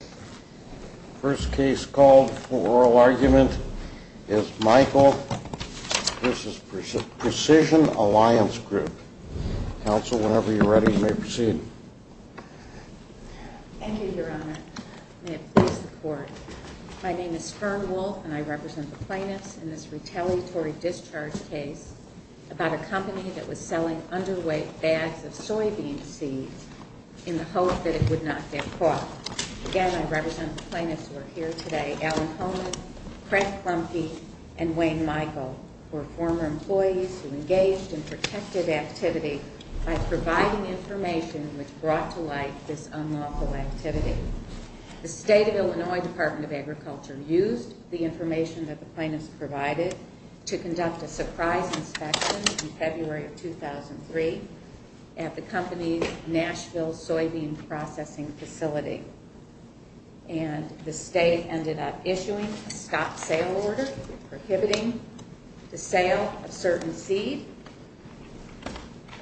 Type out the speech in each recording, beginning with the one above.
The first case called for oral argument is Michael v. Precision Alliance Group. Counsel, whenever you're ready, you may proceed. Thank you, Your Honor. May it please the Court. My name is Fern Wolf and I represent the plaintiffs in this retaliatory discharge case about a company that was selling underweight bags of soybean seeds in the hope that it would not get caught. Again, I represent the plaintiffs who are here today, Alan Holman, Craig Clumpy, and Wayne Michael, who were former employees who engaged in protective activity by providing information which brought to light this unlawful activity. The State of Illinois Department of Agriculture used the information that the plaintiffs provided to conduct a surprise inspection in February of 2003 at the company's Nashville soybean processing facility. And the State ended up issuing a stop-sale order prohibiting the sale of certain seed.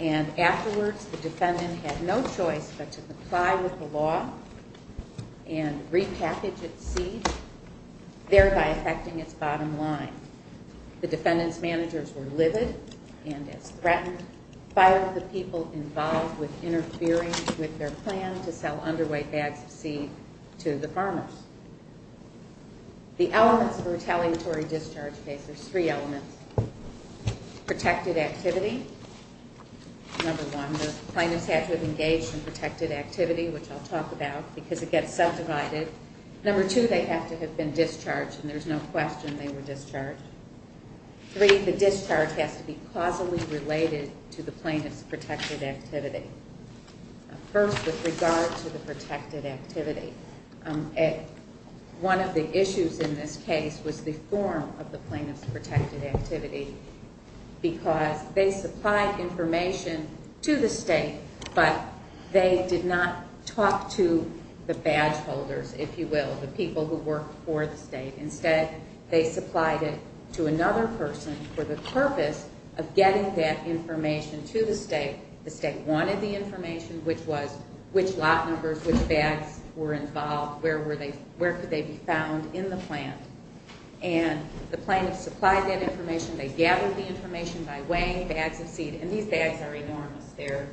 And afterwards, the defendant had no choice but to comply with the law and repackage its seed, thereby affecting its bottom line. The defendant's managers were livid and, as threatened, fired the people involved with interfering with their plan to sell underweight bags of seed to the farmers. The elements of a retaliatory discharge case are three elements. Protected activity, number one, the plaintiffs had to have engaged in protected activity, which I'll talk about because it gets subdivided. Number two, they have to have been discharged, and there's no question they were discharged. Three, the discharge has to be causally related to the plaintiffs' protected activity. First, with regard to the protected activity, one of the issues in this case was the form of the plaintiffs' protected activity because they supplied information to the State, but they did not talk to the badge holders, if you will, the people who work for the State. Instead, they supplied it to another person for the purpose of getting that information to the State. The State wanted the information, which was which lot numbers, which bags were involved, where could they be found in the plant. And the plaintiffs supplied that information. They gathered the information by weighing bags of seed. And these bags are enormous. They're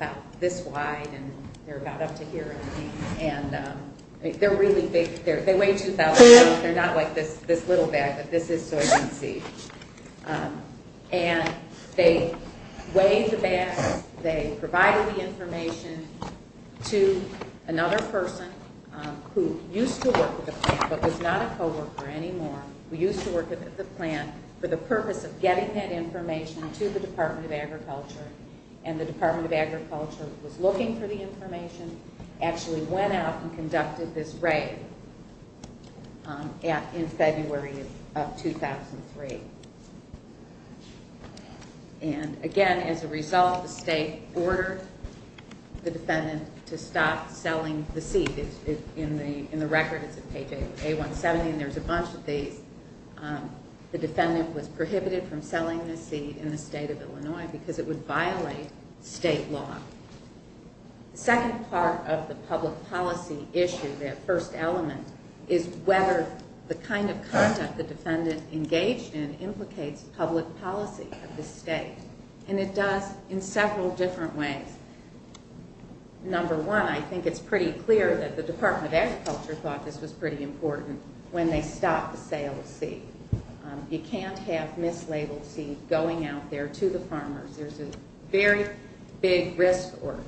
about this wide, and they're about up to here, I think. And they're really big. They weigh 2,000 pounds. They're not like this little bag, but this is soybean seed. And they weighed the bags. They provided the information to another person who used to work with the plant but was not a co-worker anymore, who used to work at the plant, for the purpose of getting that information to the Department of Agriculture. And the Department of Agriculture was looking for the information, actually went out and conducted this raid in February of 2003. And again, as a result, the State ordered the defendant to stop selling the seed. In the record, it's on page A170, and there's a bunch of these. The defendant was prohibited from selling the seed in the state of Illinois because it would violate state law. The second part of the public policy issue, that first element, is whether the kind of conduct the defendant engaged in implicates public policy of the state. And it does in several different ways. Number one, I think it's pretty clear that the Department of Agriculture thought this was pretty important when they stopped the sale of seed. You can't have mislabeled seed going out there to the farmers. There's a very big risk or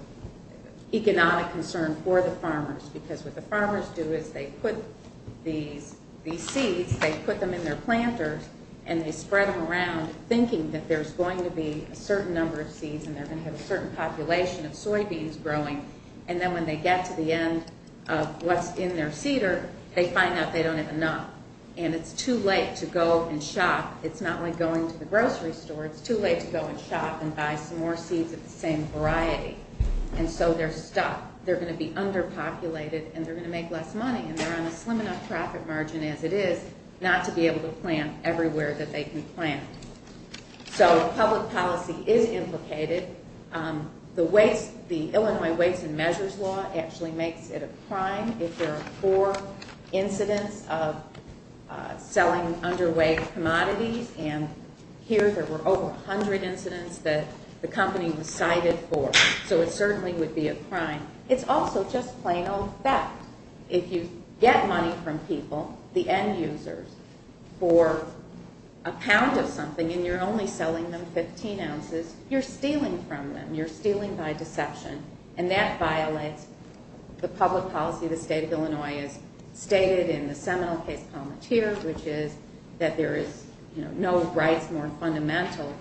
economic concern for the farmers because what the farmers do is they put these seeds, they put them in their planters, and they spread them around thinking that there's going to be a certain number of seeds and they're going to have a certain population of soybeans growing. And then when they get to the end of what's in their seeder, they find out they don't have enough. And it's too late to go and shop. It's not like going to the grocery store. It's too late to go and shop and buy some more seeds of the same variety. And so they're stuck. They're going to be underpopulated, and they're going to make less money. And they're on a slim enough profit margin as it is not to be able to plant everywhere that they can plant. So public policy is implicated. The Illinois Waste and Measures Law actually makes it a crime if there are four incidents of selling underweight commodities. And here there were over 100 incidents that the company was cited for. So it certainly would be a crime. It's also just plain old fact. If you get money from people, the end users, for a pound of something, and you're only selling them 15 ounces, you're stealing from them. You're stealing by deception. And that violates the public policy of the state of Illinois as stated in the Seminole case, Palmatier, which is that there is no rights more fundamental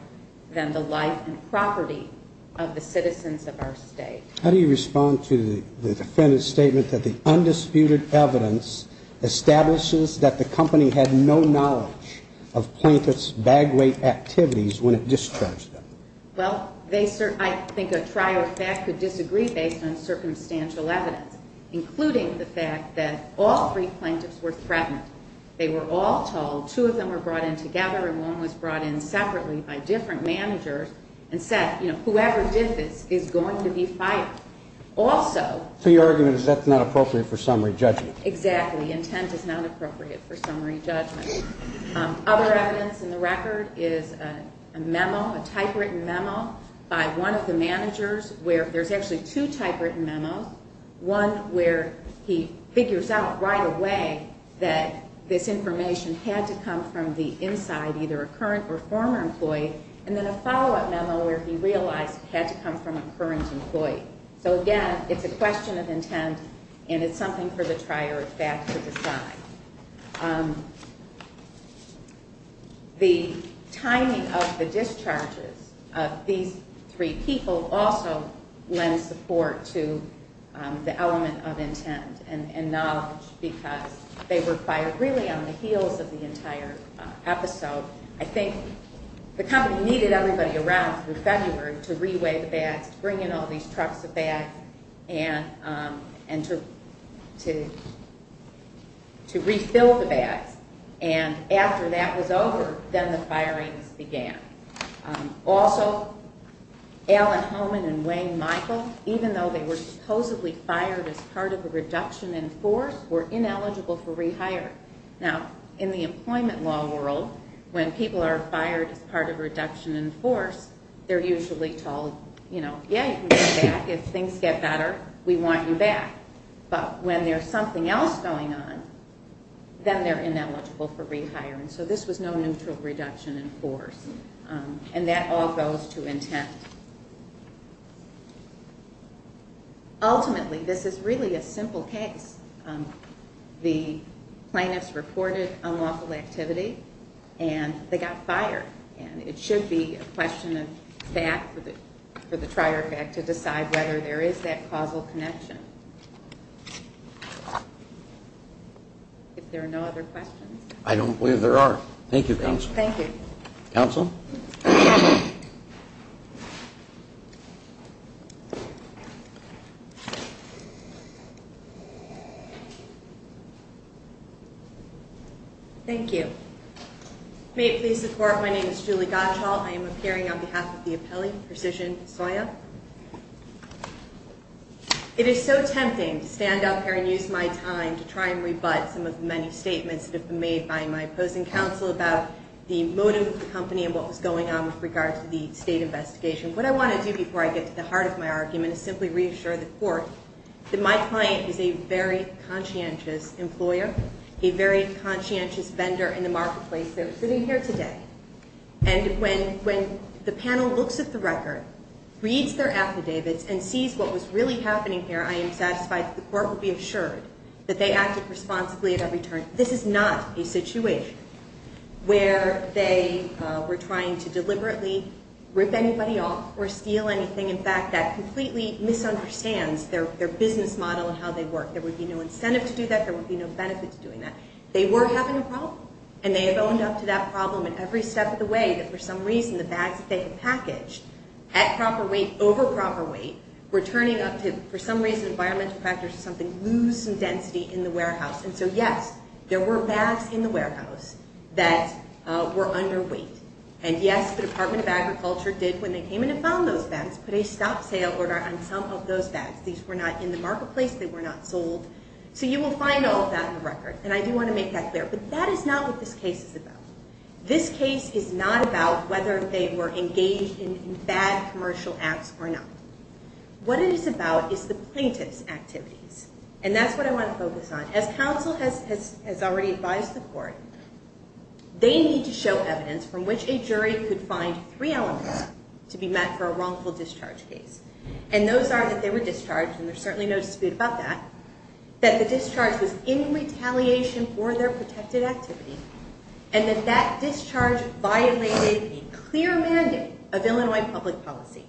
than the life and property of the citizens of our state. How do you respond to the defendant's statement that the undisputed evidence establishes that the company had no knowledge of plaintiffs' bag-weight activities when it discharged them? Well, I think a trio of fact could disagree based on circumstantial evidence, including the fact that all three plaintiffs were threatened. They were all told, two of them were brought in together and one was brought in separately by different managers, and said, you know, whoever did this is going to be fired. So your argument is that's not appropriate for summary judgment? Exactly. Intent is not appropriate for summary judgment. Other evidence in the record is a memo, a typewritten memo, by one of the managers where there's actually two typewritten memos, one where he figures out right away that this information had to come from the inside, either a current or former employee, and then a follow-up memo where he realized it had to come from a current employee. So again, it's a question of intent and it's something for the trio of fact to decide. The timing of the discharges of these three people also lends support to the element of intent and knowledge because they were fired really on the heels of the entire episode. I think the company needed everybody around through February to re-weigh the bags, to bring in all these trucks of bags, and to refill the bags. And after that was over, then the firings began. Also, Alan Homan and Wayne Michael, even though they were supposedly fired as part of a reduction in force, were ineligible for rehire. Now, in the employment law world, when people are fired as part of a reduction in force, they're usually told, you know, yeah, you can come back. If things get better, we want you back. But when there's something else going on, then they're ineligible for rehire. And so this was no neutral reduction in force. And that all goes to intent. Ultimately, this is really a simple case. The plaintiffs reported unlawful activity and they got fired. And it should be a question of that for the trier effect to decide whether there is that causal connection. If there are no other questions. I don't believe there are. Thank you, counsel. Thank you. Counsel? Thank you. May it please the court, my name is Julie Gottschall. I am appearing on behalf of the appellee, Precision Soya. It is so tempting to stand up here and use my time to try and rebut some of the many statements that have been made by my opposing counsel about the motive of the company and what was going on with regard to the state investigation. What I want to do before I get to the heart of my argument is simply reassure the court that my client is a very conscientious employer, a very conscientious vendor in the marketplace that is sitting here today. And when the panel looks at the record, reads their affidavits and sees what was really happening here, I am satisfied that the court will be assured that they acted responsibly at every turn. This is not a situation where they were trying to deliberately rip anybody off or steal anything. In fact, that completely misunderstands their business model and how they work. There would be no incentive to do that. There would be no benefit to doing that. They were having a problem. And they have owned up to that problem in every step of the way that for some reason the bags that they had packaged at proper weight over proper weight were turning up to, for some reason, environmental factors or something, lose some density in the warehouse. And so, yes, there were bags in the warehouse that were underweight. And, yes, the Department of Agriculture did, when they came in and found those bags, put a stop-sale order on some of those bags. These were not in the marketplace. They were not sold. So you will find all of that in the record. And I do want to make that clear. But that is not what this case is about. This case is not about whether they were engaged in bad commercial acts or not. What it is about is the plaintiff's activities. And that's what I want to focus on. As counsel has already advised the court, they need to show evidence from which a jury could find three elements to be met for a wrongful discharge case. And those are that they were discharged, and there's certainly no dispute about that, that the discharge was in retaliation for their protected activity, and that that discharge violated a clear mandate of Illinois public policy.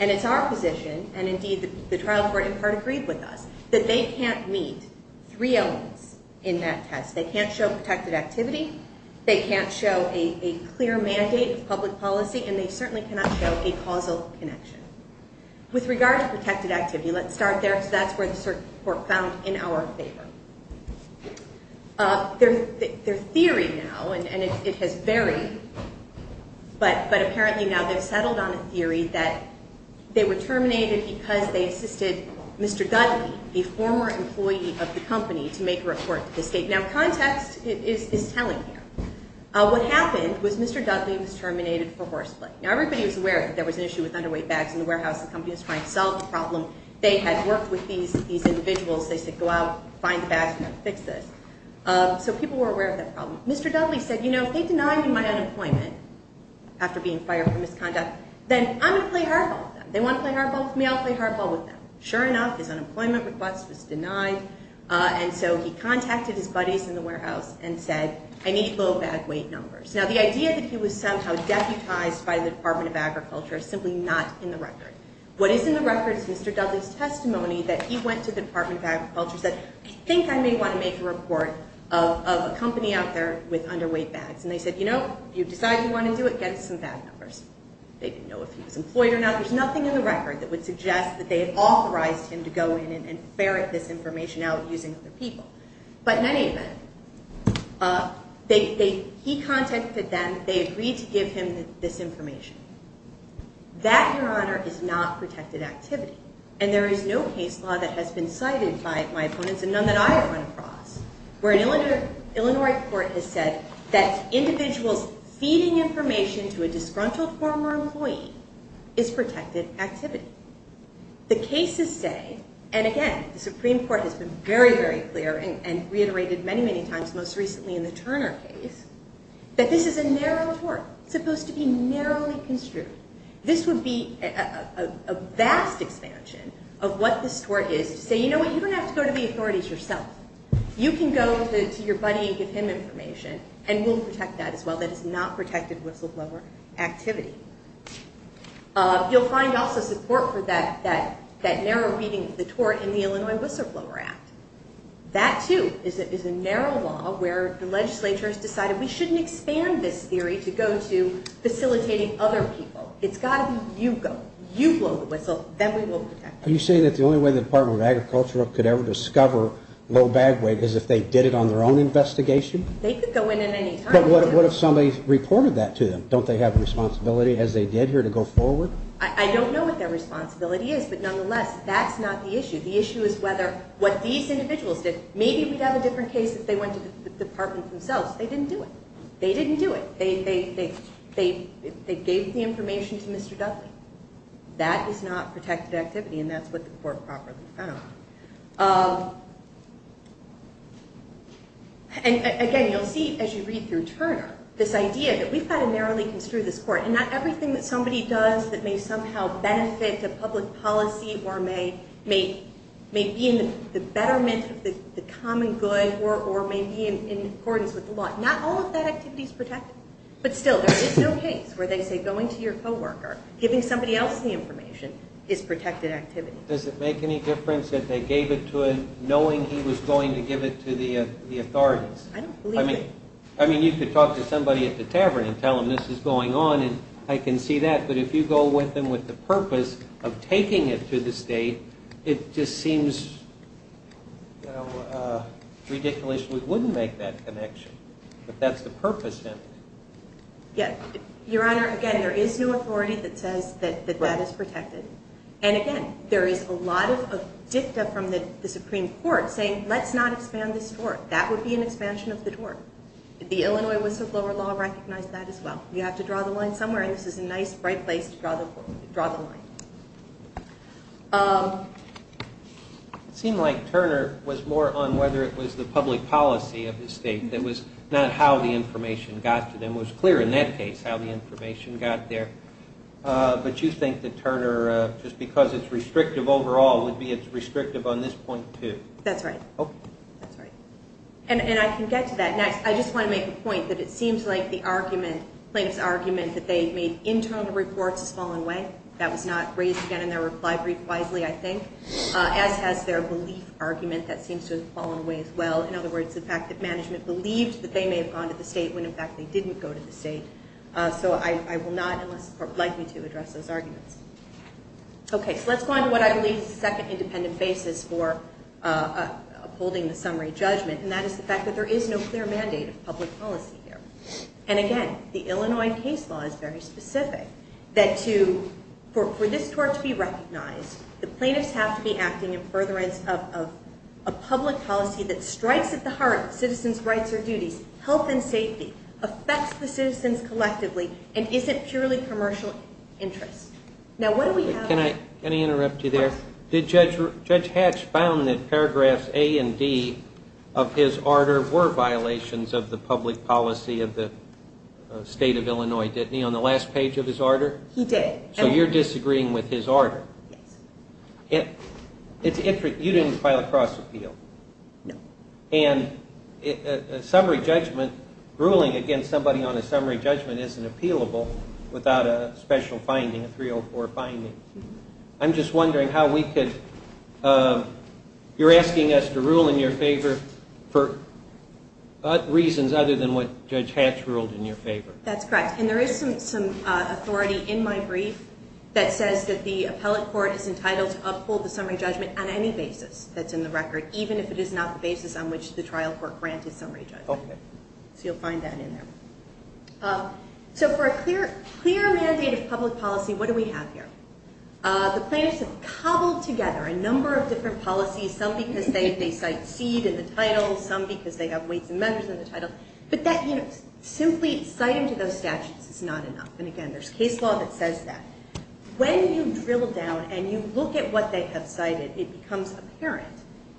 And it's our position, and indeed the trial court in part agreed with us, that they can't meet three elements in that test. They can't show protected activity. They can't show a clear mandate of public policy. And they certainly cannot show a causal connection. With regard to protected activity, let's start there because that's where the court found in our favor. Their theory now, and it has varied, but apparently now they've settled on a theory that they were terminated because they assisted Mr. Dudley, a former employee of the company, to make a report to the state. Now context is telling here. What happened was Mr. Dudley was terminated for horseplay. Now everybody was aware that there was an issue with underweight bags in the warehouse. The company was trying to solve the problem. They had worked with these individuals. They said, go out, find the bags, and we're going to fix this. So people were aware of that problem. Mr. Dudley said, you know, if they deny me my unemployment after being fired for misconduct, then I'm going to play hardball with them. They want to play hardball with me, I'll play hardball with them. Sure enough, his unemployment request was denied, and so he contacted his buddies in the warehouse and said, I need low bag weight numbers. Now the idea that he was somehow deputized by the Department of Agriculture is simply not in the record. What is in the record is Mr. Dudley's testimony that he went to the Department of Agriculture and said, I think I may want to make a report of a company out there with underweight bags. And they said, you know, if you decide you want to do it, get us some bag numbers. They didn't know if he was employed or not. There's nothing in the record that would suggest that they had authorized him to go in and ferret this information out using other people. But in any event, he contacted them. They agreed to give him this information. That, Your Honor, is not protected activity, and there is no case law that has been cited by my opponents and none that I have run across where an Illinois court has said that individuals feeding information to a disgruntled former employee is protected activity. The cases say, and again, the Supreme Court has been very, very clear and reiterated many, many times, most recently in the Turner case, that this is a narrow tort, supposed to be narrowly construed. This would be a vast expansion of what this tort is to say, you know what, you don't have to go to the authorities yourself. You can go to your buddy and give him information, and we'll protect that as well. That is not protected whistleblower activity. You'll find also support for that narrow reading of the tort in the Illinois Whistleblower Act. That, too, is a narrow law where the legislature has decided we shouldn't expand this theory to go to facilitating other people. It's got to be you go. You blow the whistle. Then we will protect that. Are you saying that the only way the Department of Agriculture could ever discover low bag weight is if they did it on their own investigation? They could go in at any time. But what if somebody reported that to them? Don't they have a responsibility, as they did here, to go forward? I don't know what their responsibility is, but nonetheless, that's not the issue. The issue is whether what these individuals did, maybe we'd have a different case if they went to the department themselves. They didn't do it. They didn't do it. They gave the information to Mr. Dudley. That is not protected activity, and that's what the court properly found. Again, you'll see, as you read through Turner, this idea that we've got to narrowly construe this court, and not everything that somebody does that may somehow benefit a public policy or may be in the betterment of the common good or may be in accordance with the law, not all of that activity is protected. But still, there is no case where they say going to your co-worker, giving somebody else the information, is protected activity. Does it make any difference that they gave it to him knowing he was going to give it to the authorities? I don't believe it. I mean, you could talk to somebody at the tavern and tell them this is going on, and I can see that. But if you go with them with the purpose of taking it to the state, it just seems ridiculous we wouldn't make that connection. But that's the purpose, isn't it? Yes. Your Honor, again, there is no authority that says that that is protected. And, again, there is a lot of dicta from the Supreme Court saying let's not expand this door. That would be an expansion of the door. The Illinois whistleblower law recognized that as well. You have to draw the line somewhere, and this is a nice, bright place to draw the line. It seemed like Turner was more on whether it was the public policy of the state that was not how the information got to them. It was clear in that case how the information got there. But you think that Turner, just because it's restrictive overall, would be it's restrictive on this point too? That's right. Okay. That's right. And I can get to that next. I just want to make a point that it seems like the argument, plaintiff's argument that they made internal reports has fallen away. That was not raised again in their reply brief wisely, I think. As has their belief argument that seems to have fallen away as well. In other words, the fact that management believed that they may have gone to the state when, in fact, they didn't go to the state. So I will not unless the court would like me to address those arguments. Okay, so let's go on to what I believe is the second independent basis for upholding the summary judgment, and that is the fact that there is no clear mandate of public policy here. And again, the Illinois case law is very specific that for this court to be recognized, the plaintiffs have to be acting in furtherance of a public policy that strikes at the heart of citizens' rights or duties, health and safety, affects the citizens collectively, and isn't purely commercial interest. Can I interrupt you there? Yes. Judge Hatch found that paragraphs A and D of his order were violations of the public policy of the state of Illinois, didn't he, on the last page of his order? He did. So you're disagreeing with his order. Yes. You didn't file a cross appeal. No. And a summary judgment, ruling against somebody on a summary judgment isn't appealable without a special finding, a 304 finding. I'm just wondering how we could, you're asking us to rule in your favor for reasons other than what Judge Hatch ruled in your favor. That's correct. And there is some authority in my brief that says that the appellate court is entitled to uphold the summary judgment on any basis that's in the record, even if it is not the basis on which the trial court granted summary judgment. So you'll find that in there. So for a clear mandate of public policy, what do we have here? The plaintiffs have cobbled together a number of different policies, some because they cite seed in the title, some because they have weights and measures in the title. But simply citing to those statutes is not enough. And again, there's case law that says that. When you drill down and you look at what they have cited, it becomes apparent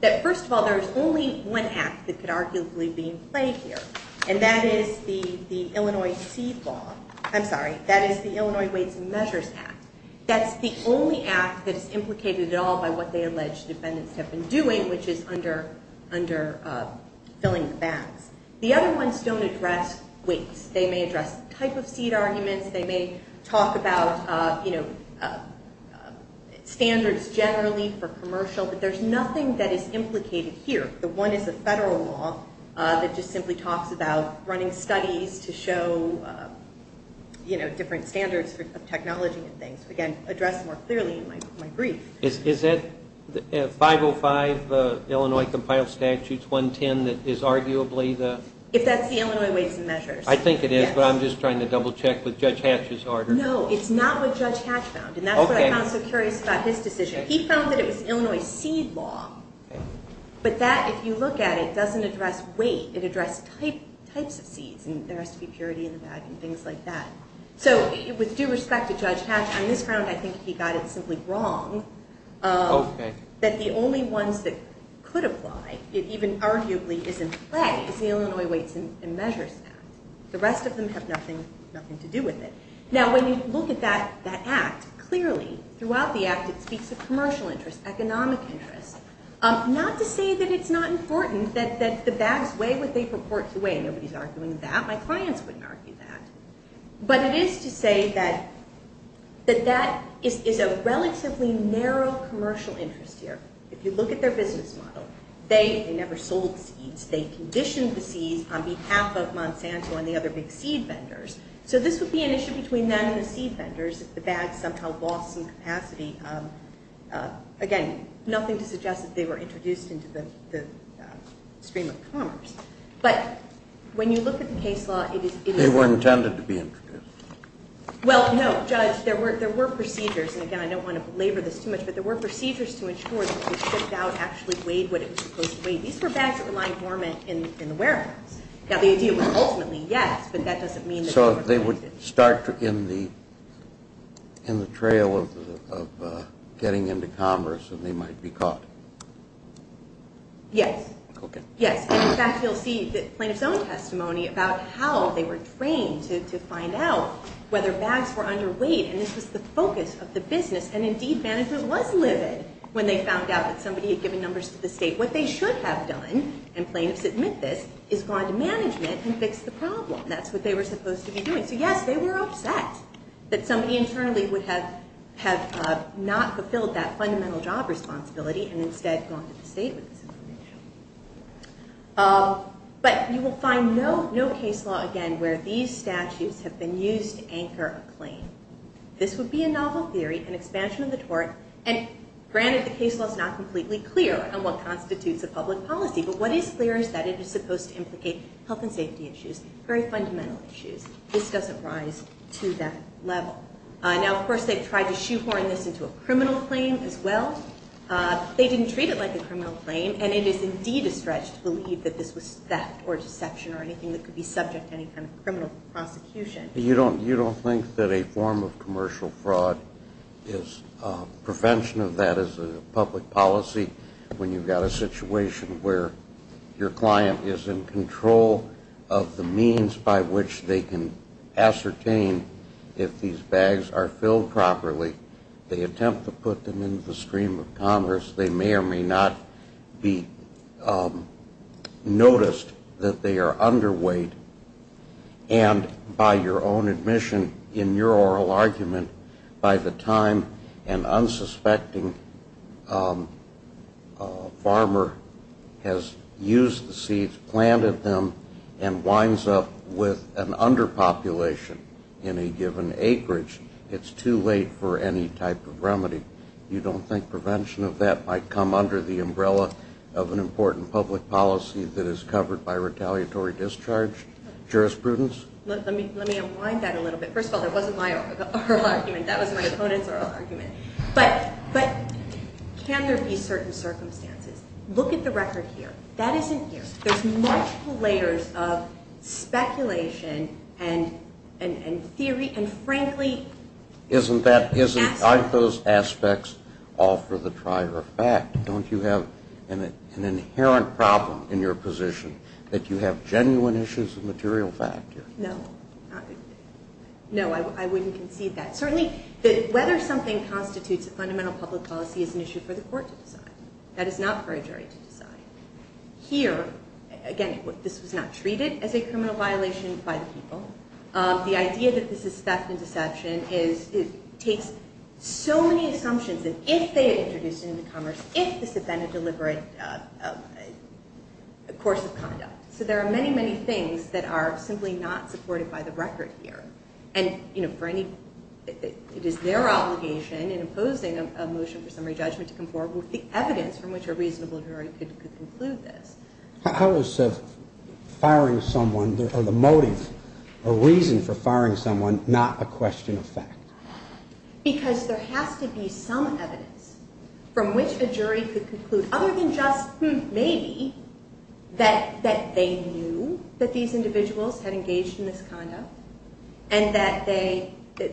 that, first of all, there is only one act that could arguably be in play here, and that is the Illinois Seed Law. I'm sorry, that is the Illinois Weights and Measures Act. That's the only act that is implicated at all by what they allege defendants have been doing, which is under filling the bags. The other ones don't address weights. They may address the type of seed arguments. They may talk about, you know, standards generally for commercial. But there's nothing that is implicated here. The one is a federal law that just simply talks about running studies to show, you know, different standards of technology and things. Again, addressed more clearly in my brief. Is that 505 Illinois Compiled Statutes 110 that is arguably the? If that's the Illinois Weights and Measures. I think it is, but I'm just trying to double check with Judge Hatch's order. No, it's not what Judge Hatch found, and that's what I found so curious about his decision. He found that it was Illinois Seed Law, but that, if you look at it, doesn't address weight. It addressed types of seeds, and there has to be purity in the bag and things like that. So with due respect to Judge Hatch, on this ground I think he got it simply wrong. Okay. That the only ones that could apply, it even arguably is in play, is the Illinois Weights and Measures Act. The rest of them have nothing to do with it. Now, when you look at that act, clearly throughout the act it speaks of commercial interest, economic interest. Not to say that it's not important that the bags weigh what they purport to weigh. Nobody's arguing that. My clients wouldn't argue that. But it is to say that that is a relatively narrow commercial interest here. If you look at their business model, they never sold seeds. They conditioned the seeds on behalf of Monsanto and the other big seed vendors. So this would be an issue between them and the seed vendors if the bag somehow lost some capacity. Again, nothing to suggest that they were introduced into the stream of commerce. But when you look at the case law, it is- They were intended to be introduced. Well, no, Judge, there were procedures, and again, I don't want to belabor this too much, but there were procedures to ensure that they shipped out, actually weighed what it was supposed to weigh. These were bags that were lying dormant in the warehouse. Now, the idea was ultimately yes, but that doesn't mean that- So they would start in the trail of getting into commerce and they might be caught. Yes. Okay. Yes, and in fact, you'll see the plaintiff's own testimony about how they were trained to find out whether bags were underweight. And this was the focus of the business. And indeed, management was livid when they found out that somebody had given numbers to the state. What they should have done, and plaintiffs admit this, is gone to management and fixed the problem. That's what they were supposed to be doing. So yes, they were upset that somebody internally would have not fulfilled that fundamental job responsibility and instead gone to the state with this information. But you will find no case law, again, where these statutes have been used to anchor a claim. This would be a novel theory, an expansion of the tort. And granted, the case law is not completely clear on what constitutes a public policy, but what is clear is that it is supposed to implicate health and safety issues, very fundamental issues. This doesn't rise to that level. Now, of course, they've tried to shoehorn this into a criminal claim as well. They didn't treat it like a criminal claim, and it is indeed a stretch to believe that this was theft or deception or anything that could be subject to any kind of criminal prosecution. You don't think that a form of commercial fraud is prevention of that as a public policy when you've got a situation where your client is in control of the means by which they can ascertain if these bags are filled properly. They attempt to put them into the stream of commerce. They may or may not be noticed that they are underweight, and by your own admission in your oral argument, by the time an unsuspecting farmer has used the seeds, planted them, and winds up with an underpopulation in a given acreage, it's too late for any type of remedy. You don't think prevention of that might come under the umbrella of an important public policy that is covered by retaliatory discharge jurisprudence? Let me unwind that a little bit. First of all, that wasn't my oral argument. That was my opponent's oral argument. But can there be certain circumstances? Look at the record here. That isn't here. There's multiple layers of speculation and theory, and frankly, aren't those aspects all for the trier of fact? Don't you have an inherent problem in your position that you have genuine issues of material fact here? No. No, I wouldn't concede that. Certainly whether something constitutes a fundamental public policy is an issue for the court to decide. That is not for a jury to decide. Here, again, this was not treated as a criminal violation by the people. The idea that this is theft and deception takes so many assumptions that if they had introduced it into commerce, if this had been a deliberate course of conduct. So there are many, many things that are simply not supported by the record here. And it is their obligation in imposing a motion for summary judgment to conform with the evidence from which a reasonable jury could conclude this. How is firing someone, or the motive or reason for firing someone, not a question of fact? Because there has to be some evidence from which a jury could conclude, other than just maybe that they knew that these individuals had engaged in this conduct and that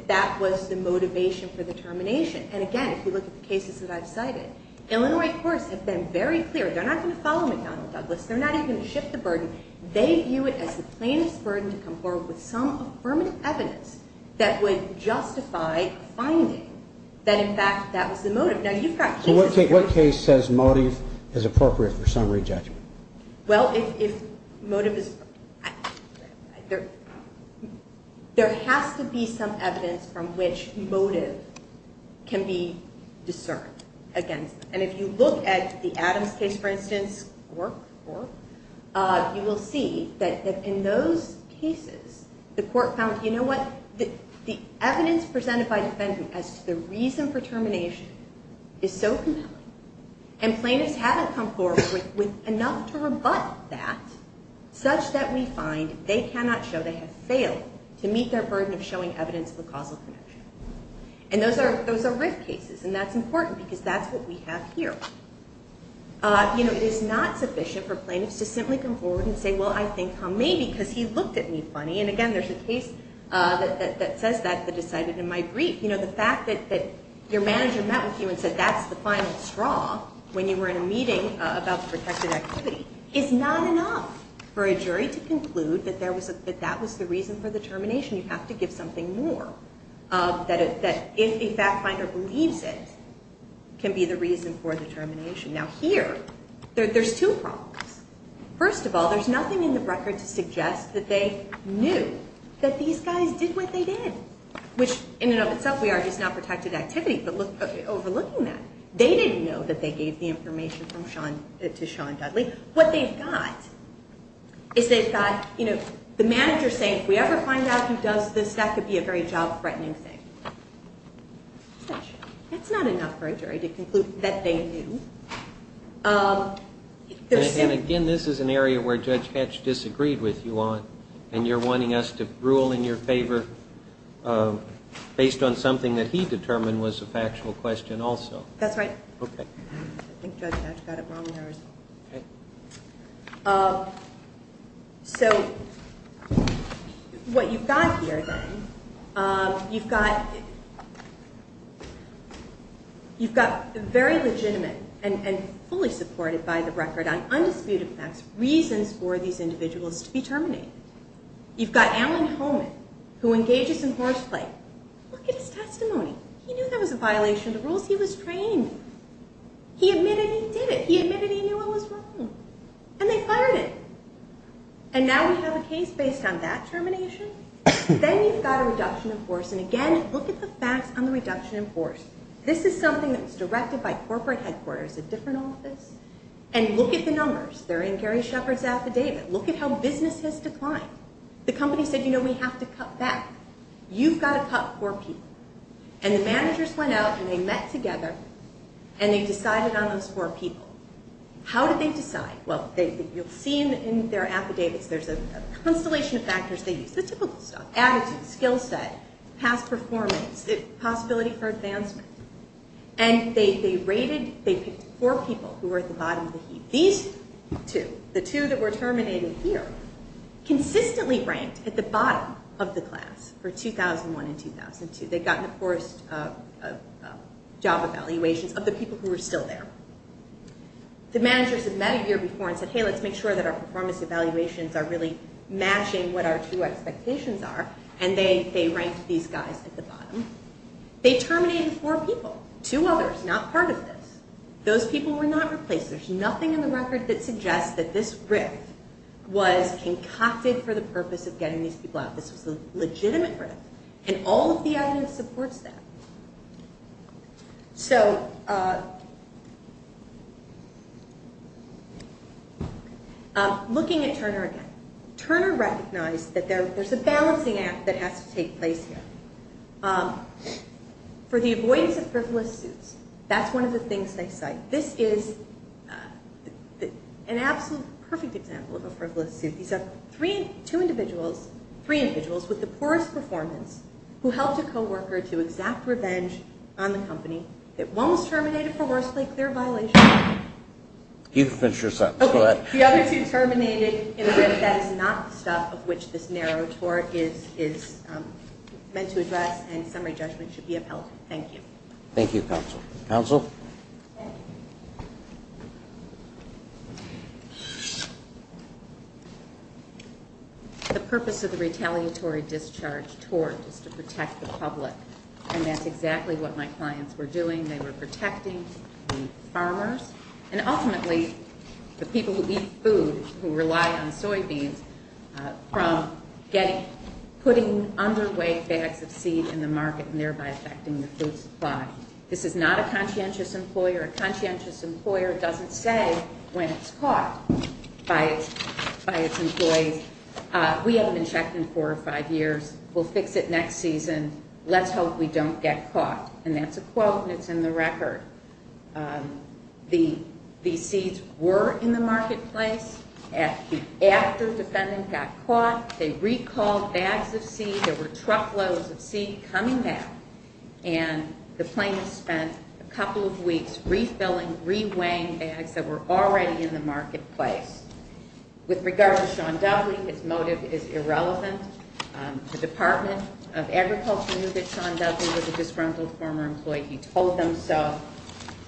that was the motivation for the termination. And again, if you look at the cases that I've cited, Illinois courts have been very clear. They're not going to follow McDonnell-Douglas. They're not even going to shift the burden. They view it as the plainest burden to conform with some affirmative evidence that would justify finding that, in fact, that was the motive. Now, you've got cases... So what case says motive is appropriate for summary judgment? Well, if motive is... There has to be some evidence from which motive can be discerned against. And if you look at the Adams case, for instance, you will see that in those cases, the court found, you know what? The evidence presented by the defendant as to the reason for termination is so compelling, and plaintiffs haven't come forward with enough to rebut that such that we find they cannot show they have failed to meet their burden of showing evidence of a causal connection. And those are RIF cases, and that's important because that's what we have here. You know, it is not sufficient for plaintiffs to simply come forward and say, well, I think he may because he looked at me funny. And, again, there's a case that says that that is cited in my brief. You know, the fact that your manager met with you and said, that's the final straw when you were in a meeting about the protected activity is not enough for a jury to conclude that that was the reason for the termination. You have to give something more. That if a fact finder believes it can be the reason for the termination. Now, here, there's two problems. First of all, there's nothing in the record to suggest that they knew that these guys did what they did, which in and of itself we are just not protected activity, but overlooking that, they didn't know that they gave the information to Sean Dudley. What they've got is they've got, you know, the manager saying if we ever find out who does this, that could be a very job-threatening thing. That's not enough for a jury to conclude that they knew. And, again, this is an area where Judge Hatch disagreed with you on, and you're wanting us to rule in your favor based on something that he determined was a factual question also. That's right. Okay. I think Judge Hatch got it wrong there as well. Okay. So what you've got here, then, you've got very legitimate and fully supported by the record on undisputed facts reasons for these individuals to be terminated. You've got Alan Holman, who engages in horseplay. Look at his testimony. He knew that was a violation of the rules. He was trained. He admitted he did it. He admitted he knew it was wrong. And they fired him. And now we have a case based on that termination? Then you've got a reduction in force. And, again, look at the facts on the reduction in force. This is something that was directed by corporate headquarters, a different office. And look at the numbers. They're in Gary Shepard's affidavit. Look at how business has declined. The company said, you know, we have to cut back. You've got to cut four people. And the managers went out, and they met together, and they decided on those four people. How did they decide? Well, you'll see in their affidavits there's a constellation of factors they used. The typical stuff. Attitude, skill set, past performance, possibility for advancement. And they rated, they picked four people who were at the bottom of the heap. These two, the two that were terminated here, consistently ranked at the bottom of the class for 2001 and 2002. They'd gotten the poorest job evaluations of the people who were still there. The managers had met a year before and said, hey, let's make sure that our performance evaluations are really matching what our two expectations are. And they ranked these guys at the bottom. They terminated four people, two others not part of this. Those people were not replaced. There's nothing in the record that suggests that this riff was concocted for the purpose of getting these people out. This was a legitimate riff. And all of the evidence supports that. So looking at Turner again. Turner recognized that there's a balancing act that has to take place here. For the avoidance of frivolous suits, that's one of the things they cite. This is an absolute perfect example of a frivolous suit. These are two individuals, three individuals with the poorest performance who helped a co-worker to exact revenge on the company. That one was terminated for worst late clear violation. You can finish your sentence. The other two terminated in a riff that is not the stuff of which this narrow tort is meant to address and summary judgment should be upheld. Thank you. Thank you, counsel. Thank you. The purpose of the retaliatory discharge tort is to protect the public. And that's exactly what my clients were doing. They were protecting the farmers and ultimately the people who eat food, who rely on soybeans, from putting underweight bags of seed in the market and thereby affecting the food supply. This is not a conscientious employer. A conscientious employer doesn't say when it's caught by its employees, we haven't been checked in four or five years, we'll fix it next season, let's hope we don't get caught. And that's a quote and it's in the record. The seeds were in the marketplace after the defendant got caught. They recalled bags of seed. There were truckloads of seed coming back. And the plaintiff spent a couple of weeks refilling, reweighing bags that were already in the marketplace. With regard to Sean Dudley, his motive is irrelevant. The Department of Agriculture knew that Sean Dudley was a disgruntled former employee. He told them so.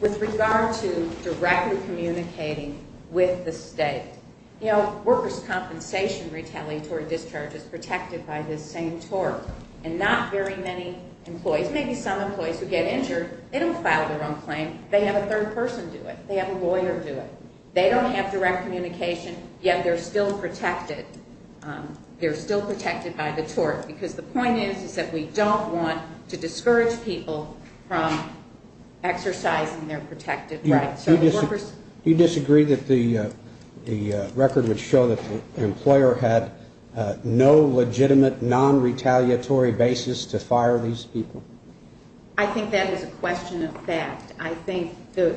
With regard to directly communicating with the state, you know, workers' compensation retaliatory discharge is protected by this same tort. And not very many employees, maybe some employees who get injured, they don't file their own claim. They have a third person do it. They have a lawyer do it. They don't have direct communication, yet they're still protected. They're still protected by the tort. Because the point is, is that we don't want to discourage people from exercising their protected rights. Do you disagree that the record would show that the employer had no legitimate non-retaliatory basis to fire these people? I think that is a question of fact. I think the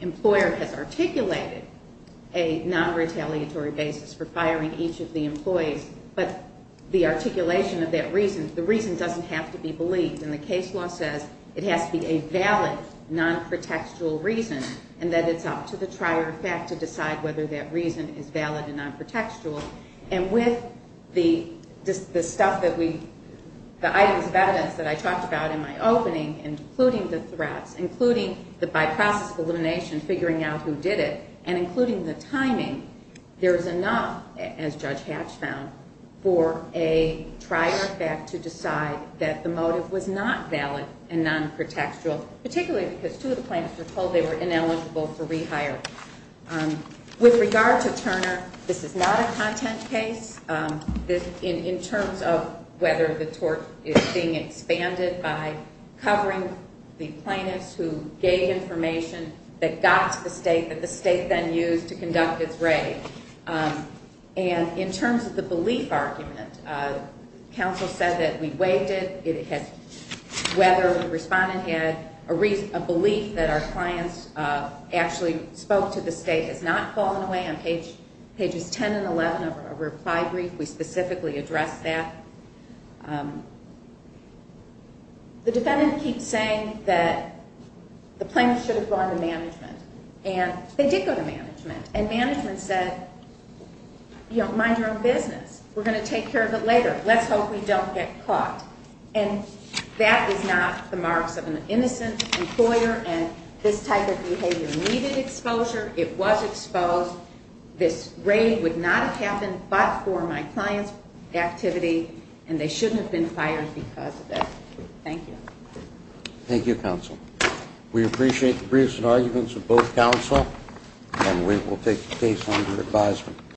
employer has articulated a non-retaliatory basis for firing each of the employees. But the articulation of that reason, the reason doesn't have to be believed. And the case law says it has to be a valid non-protectual reason, and that it's up to the trier of fact to decide whether that reason is valid and non-protectual. And with the stuff that we, the items of evidence that I talked about in my opening, including the threats, including the by-process of elimination, figuring out who did it, and including the timing, there is enough, as Judge Hatch found, for a trier of fact to decide that the motive was not valid and non-protectual, particularly because two of the plaintiffs were told they were ineligible for rehire. With regard to Turner, this is not a content case. In terms of whether the tort is being expanded by covering the plaintiffs who gave information that got to the state, that the state then used to conduct its raid. And in terms of the belief argument, counsel said that we waived it. Whether the respondent had a belief that our clients actually spoke to the state has not fallen away. On pages 10 and 11 of our reply brief, we specifically addressed that. The defendant keeps saying that the plaintiffs should have gone to management. And they did go to management. And management said, you know, mind your own business. We're going to take care of it later. Let's hope we don't get caught. And that is not the marks of an innocent employer, and this type of behavior needed exposure. It was exposed. This raid would not have happened but for my client's activity, and they shouldn't have been fired because of it. Thank you. Thank you, counsel. We appreciate the briefs and arguments of both counsel, and we will take the case under advisement.